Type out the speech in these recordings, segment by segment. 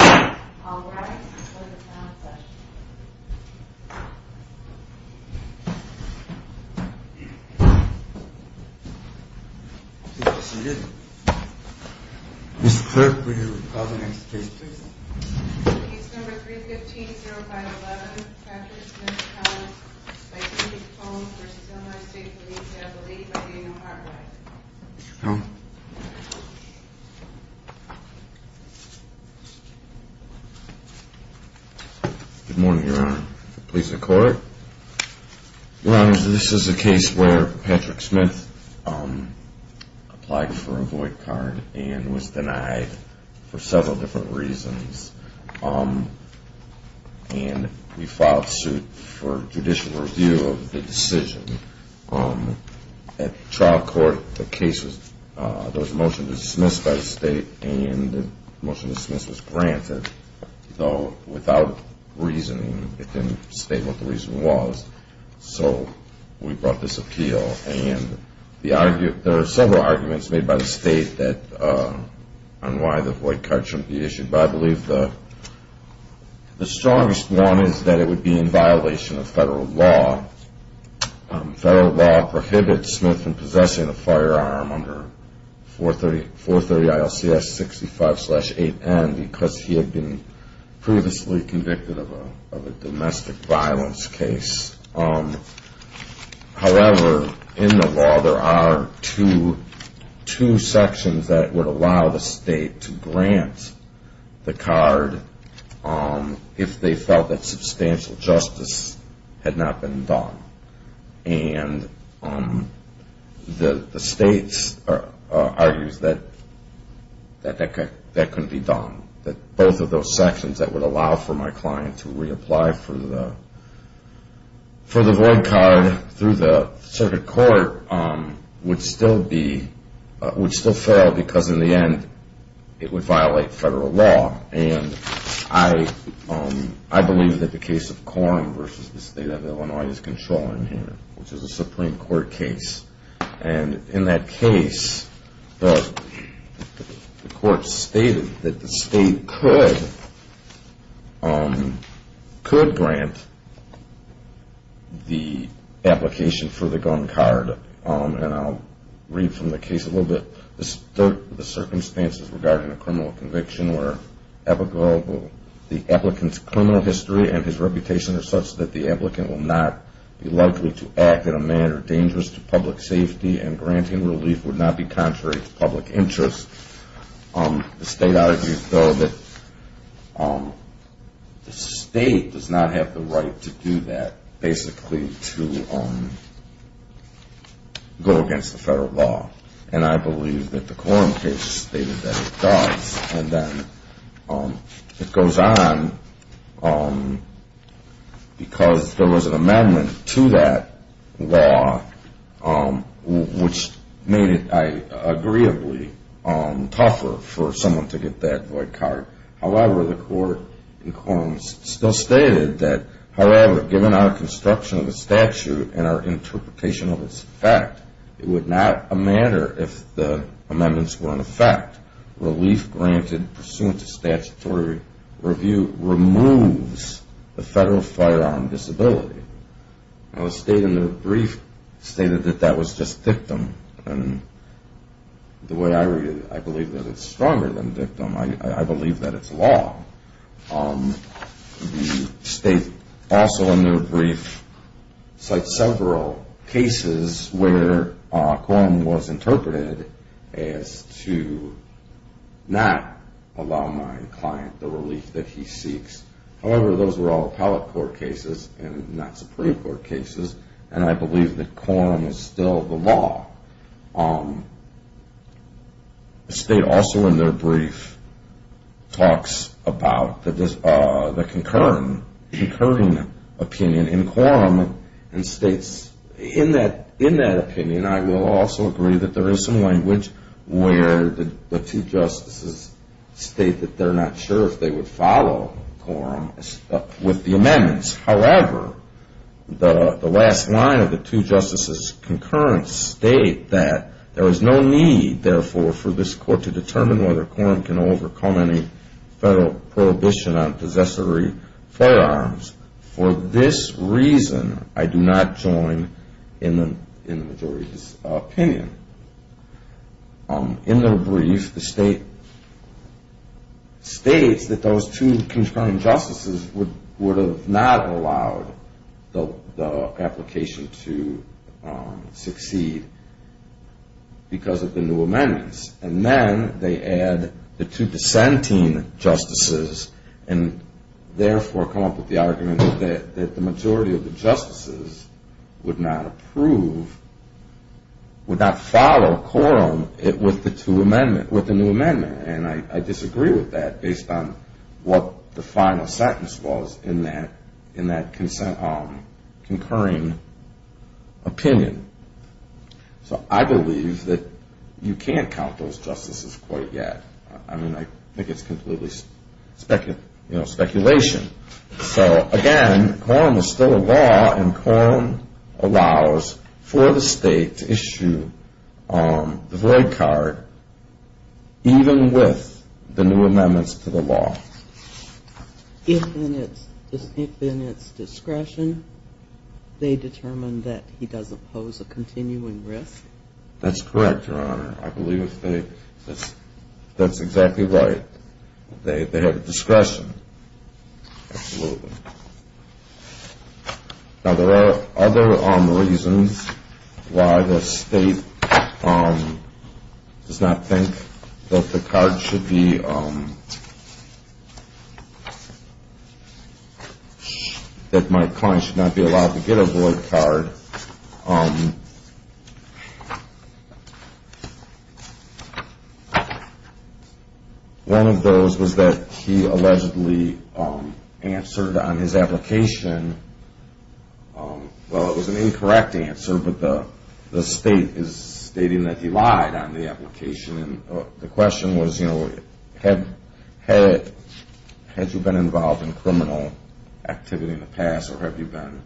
Alright, let's go to the panel session. Mr. Clerk, will you call the next case please? Case number 315-0511, Patrick Smith-Collins. Identity of the phone for Illinois State Police. We have the lead by Daniel Hardwick. Good morning, Your Honor. Police and Court. Your Honor, this is a case where Patrick Smith applied for a void card and was denied for several different reasons. And we filed suit for judicial review of the decision. At trial court, the case was, there was a motion to dismiss by the State and the motion to dismiss was granted, though without reasoning. It didn't state what the reason was. So we brought this appeal and there are several arguments made by the State on why the void card shouldn't be issued, but I believe the strongest one is that it would be in violation of federal law. Federal law prohibits Smith from possessing a firearm under 430 ILCS 65-8N because he had been previously convicted of a domestic violence case. However, in the law there are two sections that would allow the State to grant the card if they felt that substantial justice had not been done. And the State argues that that couldn't be done. Both of those sections that would allow for my client to reapply for the void card through the circuit court would still be, would still fail because in the end it would violate federal law. And I believe that the case of Korn versus the State of Illinois is controlling here, which is a Supreme Court case. And in that case, the court stated that the State could grant the application for the gun card, and I'll read from the case a little bit. The circumstances regarding a criminal conviction where the applicant's criminal history and his reputation are such that the applicant will not be likely to act in a manner dangerous to public safety and granting relief would not be contrary to public interest. The State argues, though, that the State does not have the right to do that, basically to go against the federal law. And I believe that the Korn case stated that it does. And then it goes on because there was an amendment to that law which made it, agreeably, tougher for someone to get that void card. However, the court in Korn still stated that, however, given our construction of the statute and our interpretation of its effect, it would not matter if the amendments were in effect. Relief granted pursuant to statutory review removes the federal firearm disability. Now, the State, in their brief, stated that that was just dictum. And the way I read it, I believe that it's stronger than dictum. I believe that it's law. The State, also in their brief, cites several cases where Korn was interpreted as to not allow my client the relief that he seeks. However, those were all appellate court cases and not Supreme Court cases. And I believe that Korn is still the law. The State, also in their brief, talks about the concurring opinion in Korn and states, in that opinion, I will also agree that there is some language where the two justices state that they're not sure if they would follow Korn with the amendments. However, the last line of the two justices' concurrence state that there is no need, therefore, for this court to determine whether Korn can overcome any federal prohibition on possessory firearms. For this reason, I do not join in the majority's opinion. In their brief, the State states that those two concurring justices would have not allowed the application to succeed because of the new amendments. And then they add the two dissenting justices and, therefore, come up with the argument that the majority of the justices would not approve, would not follow Korn with the new amendment. And I disagree with that based on what the final sentence was in that concurring opinion. So I believe that you can't count those justices quite yet. I mean, I think it's completely speculation. So, again, Korn is still a law and Korn allows for the State to issue the void card even with the new amendments to the law. If in its discretion they determine that he doesn't pose a continuing risk? That's correct, Your Honor. I believe that's exactly right. They have discretion. Now, there are other reasons why the State does not think that the card should be that my client should not be allowed to get a void card. One of those was that he allegedly answered on his application, well, it was an incorrect answer, but the State is stating that he lied on the application. The question was, you know, had you been involved in criminal activity in the past or have you been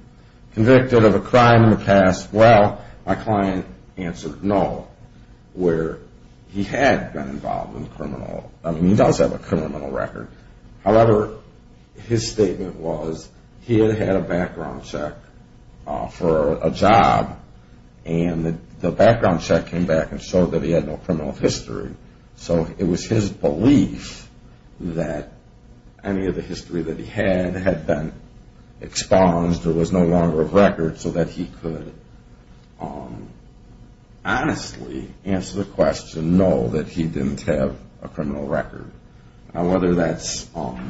convicted of a crime in the past? Well, my client answered no, where he had been involved in criminal I mean, he does have a criminal record. However, his statement was he had had a background check for a job and the background check came back and showed that he had no criminal history. So it was his belief that any of the history that he had had been expunged or was no longer a record so that he could honestly answer the question no, that he didn't have a criminal record. Now, whether that's the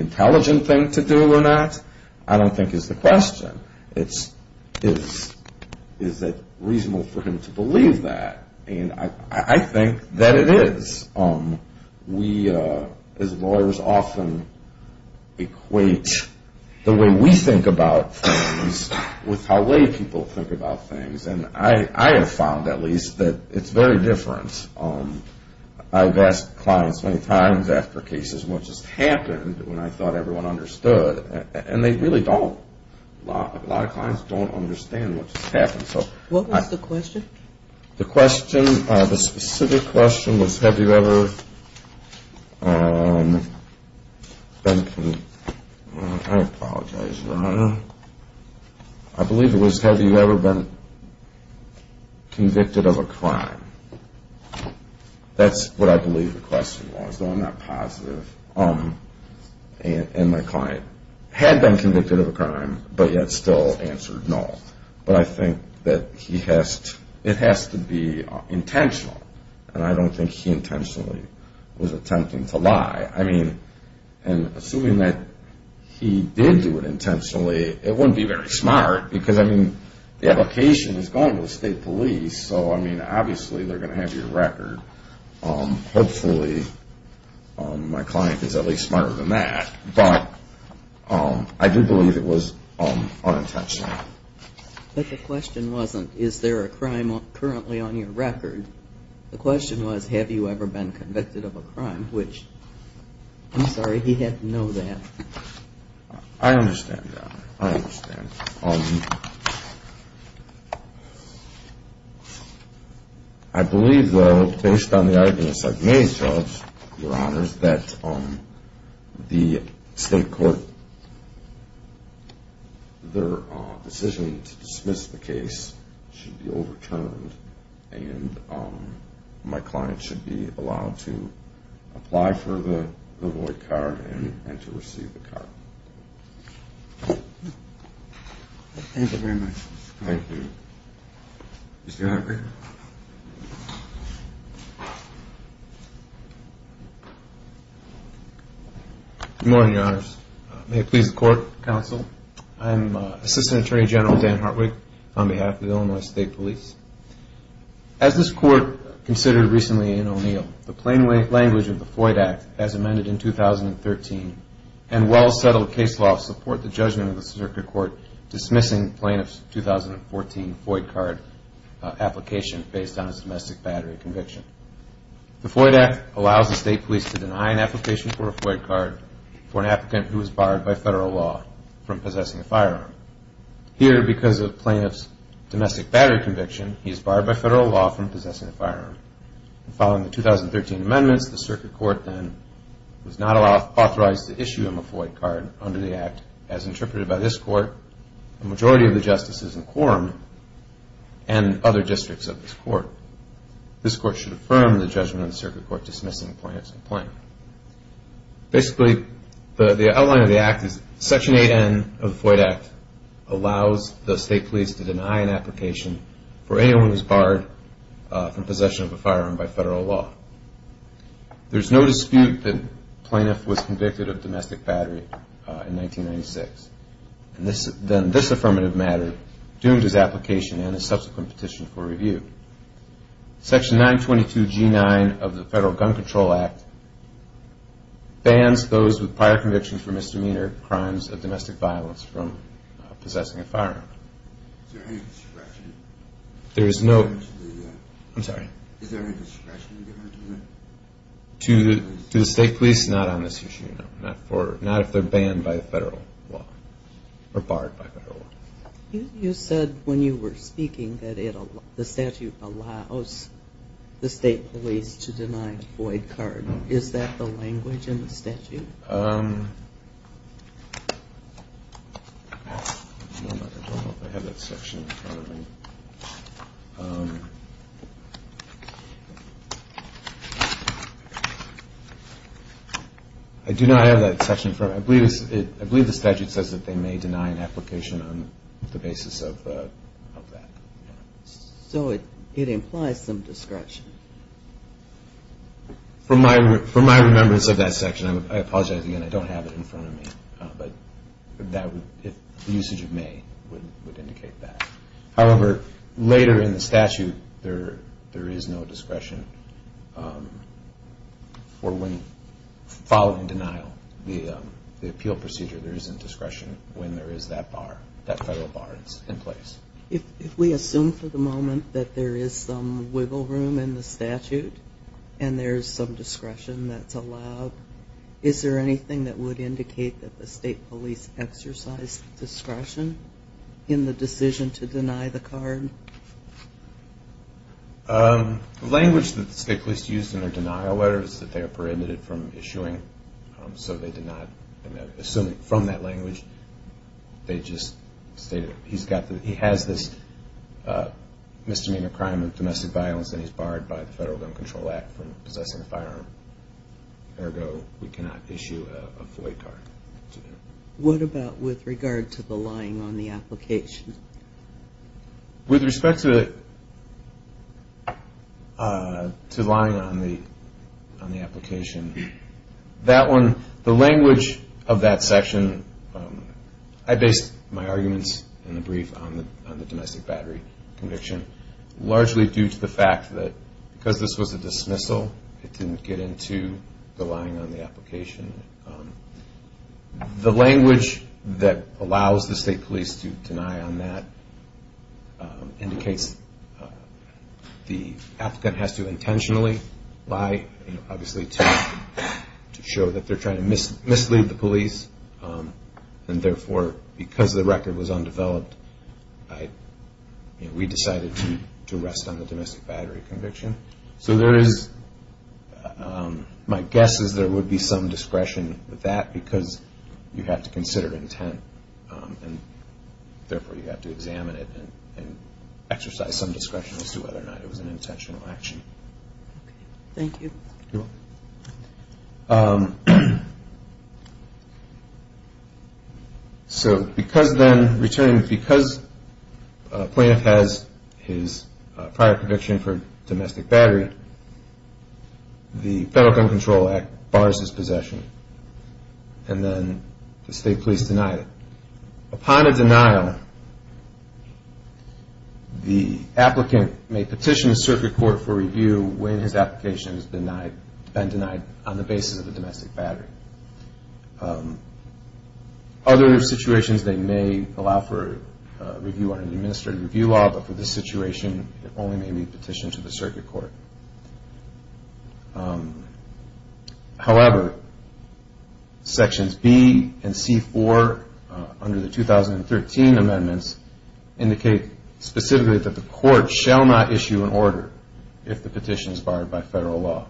intelligent thing to do or not, I don't think is the question. Is it reasonable for him to believe that? I think that it is. We as lawyers often equate the way we think about things with how lay people think about things and I have found at least that it's very different. I've asked clients many times after cases what just happened when I thought everyone understood and they really don't. A lot of clients don't understand what just happened. What was the question? The question the specific question was have you ever been convicted of a crime? I believe it was have you ever been convicted of a crime? That's what I believe the question was, though I'm not positive. And my client had been convicted of a crime but yet still answered no. But I think that it has to be intentional and I don't think he intentionally was attempting to lie. And assuming that he did do it intentionally it wouldn't be very smart because the location is going to the state police so obviously they're going to have your record. Hopefully my client is at least smarter than that. But I do believe it was unintentional. But the question wasn't is there a crime currently on your record? The question was have you ever been convicted of a crime? Which, I'm sorry, he had to know that. I understand that. I understand. I believe, though, based on the arguments I've made, Judge, Your Honors, that the state court their decision to dismiss the case should be overturned and my client should be allowed to apply for the void card and to receive the card. Thank you very much. Thank you. Mr. Hartwig. Good morning, Your Honors. May it please the court, counsel. I am Assistant Attorney General Dan Hartwig on behalf of the Illinois State Police. As this court considered recently in O'Neill, the plain language of the Floyd Act as amended in 2013 and well-settled case law support the judgment of the circuit court dismissing plaintiff's 2014 Floyd card application based on his domestic battery conviction. The Floyd Act allows the state police to deny an application for a Floyd card for an applicant who was barred by federal law from possessing a firearm. Here, because of the plaintiff's domestic battery conviction, he is barred by federal law from possessing a firearm. Following the 2013 amendments, the circuit court then was not authorized to issue him a Floyd card under the Act as interpreted by this court, the majority of the justices in quorum, and other districts of this court. This court should affirm the judgment of the circuit court dismissing the plaintiff's complaint. Basically, the outline of the Act is Section 8N of the Floyd Act allows the state police to deny an application for anyone who is barred from possession of a firearm by federal law. There is no dispute that the plaintiff was convicted of domestic battery in 1996. Then this affirmative matter doomed his application and his subsequent petition for review. Section 922G9 of the Federal Gun Control Act bans those with prior conviction for misdemeanor crimes of domestic violence from possessing a firearm. Is there any discretion? To the state police, not on this issue, no. Not if they're banned by federal law or barred by federal law. You said when you were speaking that the statute allows the state police to deny a void card. Is that the language in the statute? I don't know if I have that section in front of me. I do not have that section in front of me. I believe the statute says that they may deny an application on the basis of that. So it implies some discretion. From my remembrance of that section, I apologize again, I don't have it in front of me. The usage of may would indicate that. However, later in the statute, there is no discretion for when following denial, the appeal procedure, there isn't discretion when there is that federal bar in place. If we assume for the moment that there is some wiggle room in the statute and there is some discretion that's allowed, is there anything that would indicate that the state police exercised discretion in the decision to deny the card? The language that the state police used in their denial letter is that they are prohibited from issuing. So they did not assume from that language. They just stated that he has this misdemeanor crime of domestic violence and he's barred by the Federal Gun Control Act from possessing a firearm. Ergo, we cannot issue a FOIA card. What about with regard to the lying on the application? With respect to lying on the application, that one, the language of that section, I based my arguments in the brief on the domestic battery conviction, largely due to the fact that because this was a dismissal, it didn't get into the lying on the application. The language that allows the state police to deny on that indicates the applicant has to intentionally lie, obviously to show that they're trying to mislead the police and therefore because the record was undeveloped, we decided to rest on the domestic battery conviction. So there is, my guess is there would be some discretion with that because you have to consider intent and therefore you have to examine it and exercise some discretion as to whether or not it was an intentional action. Thank you. So because then returning, because a plaintiff has his prior conviction for domestic battery, the Federal Gun Control Act bars his possession and then the state police deny it. Upon a denial, the applicant may petition the circuit court for review when his application has been denied on the basis of the domestic battery. Other situations, they may allow for review under the administrative review law, but for this situation, it only may be petitioned to the circuit court. However, Sections B and C-4 under the 2013 amendments indicate specifically that the court shall not issue an order if the petition is barred by Federal law.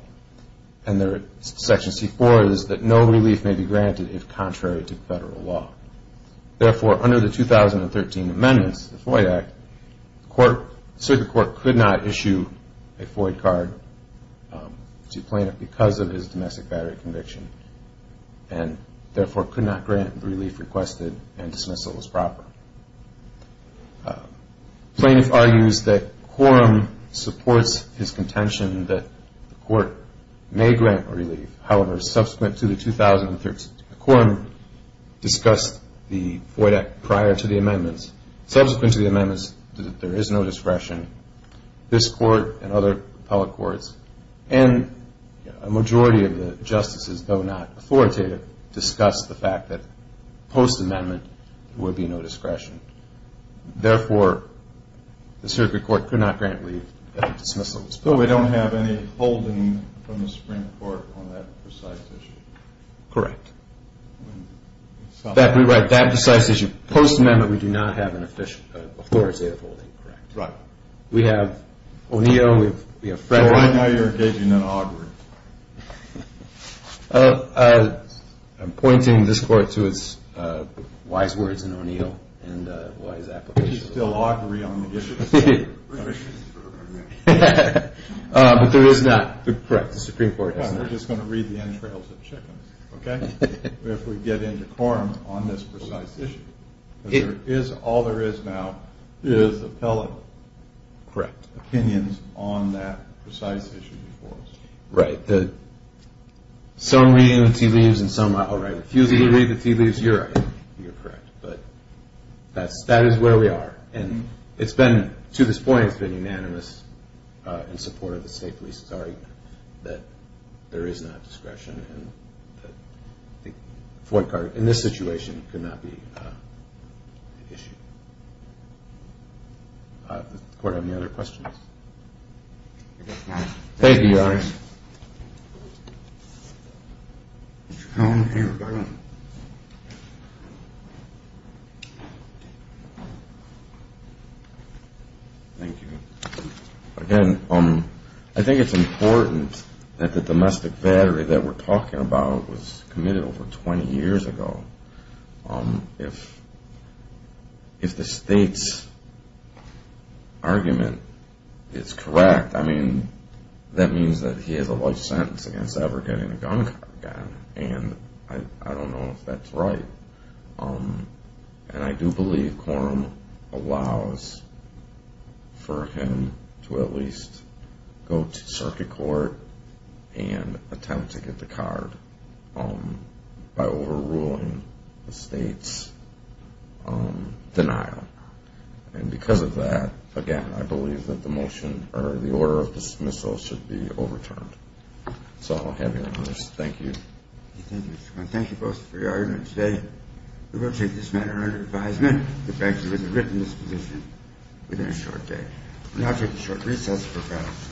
And there, Section C-4 is that no relief may be granted if contrary to Federal law. Therefore, under the 2013 amendments, the FOIA Act, the court circuit court could not issue a FOIA card to a plaintiff because of his domestic battery conviction and therefore could not grant relief requested and dismissal was proper. Plaintiff argues that quorum supports his contention that the court may grant relief. However, subsequent to the 2013 quorum, discussed the FOIA Act prior to the amendments. Subsequent to the amendments, there is no discretion. This court and other appellate courts and a majority of the justices, though not authoritative, discuss the fact that there may be no discretion. Therefore, the circuit court could not grant relief at dismissal. We don't have any holding from the Supreme Court on that precise issue? Correct. That precise issue, post-amendment, we do not have an official FOIA holding. We have O'Neill, we have Frederick. I'm pointing this court to its wise words in O'Neill and wise applications. But there is not. Correct, the Supreme Court does not. We're just going to read the entrails of chickens. If we get into quorum on this precise issue. All there is now is appellate opinions on that precise issue. Right. Some read the tea leaves and some I'll write a few. If you read the tea leaves, you're right. That is where we are. To this point, it's been unanimous in support of the State Police's argument that there is not discretion. The FOIA card, in this situation, could not be issued. Does the court have any other questions? Thank you, Your Honor. Thank you. Again, I think it's important that the domestic battery that we're talking about was committed over 20 years ago. If the State's argument is correct, that means that he has a life sentence against ever getting a gun card again. I don't know if that's right. I do believe quorum allows for him to at least go to circuit court and attempt to get the card by overruling the State's denial. Because of that, again, I believe that the motion or the order of dismissal should be overturned. Thank you. We will take this matter under advisement. We now take a short recess.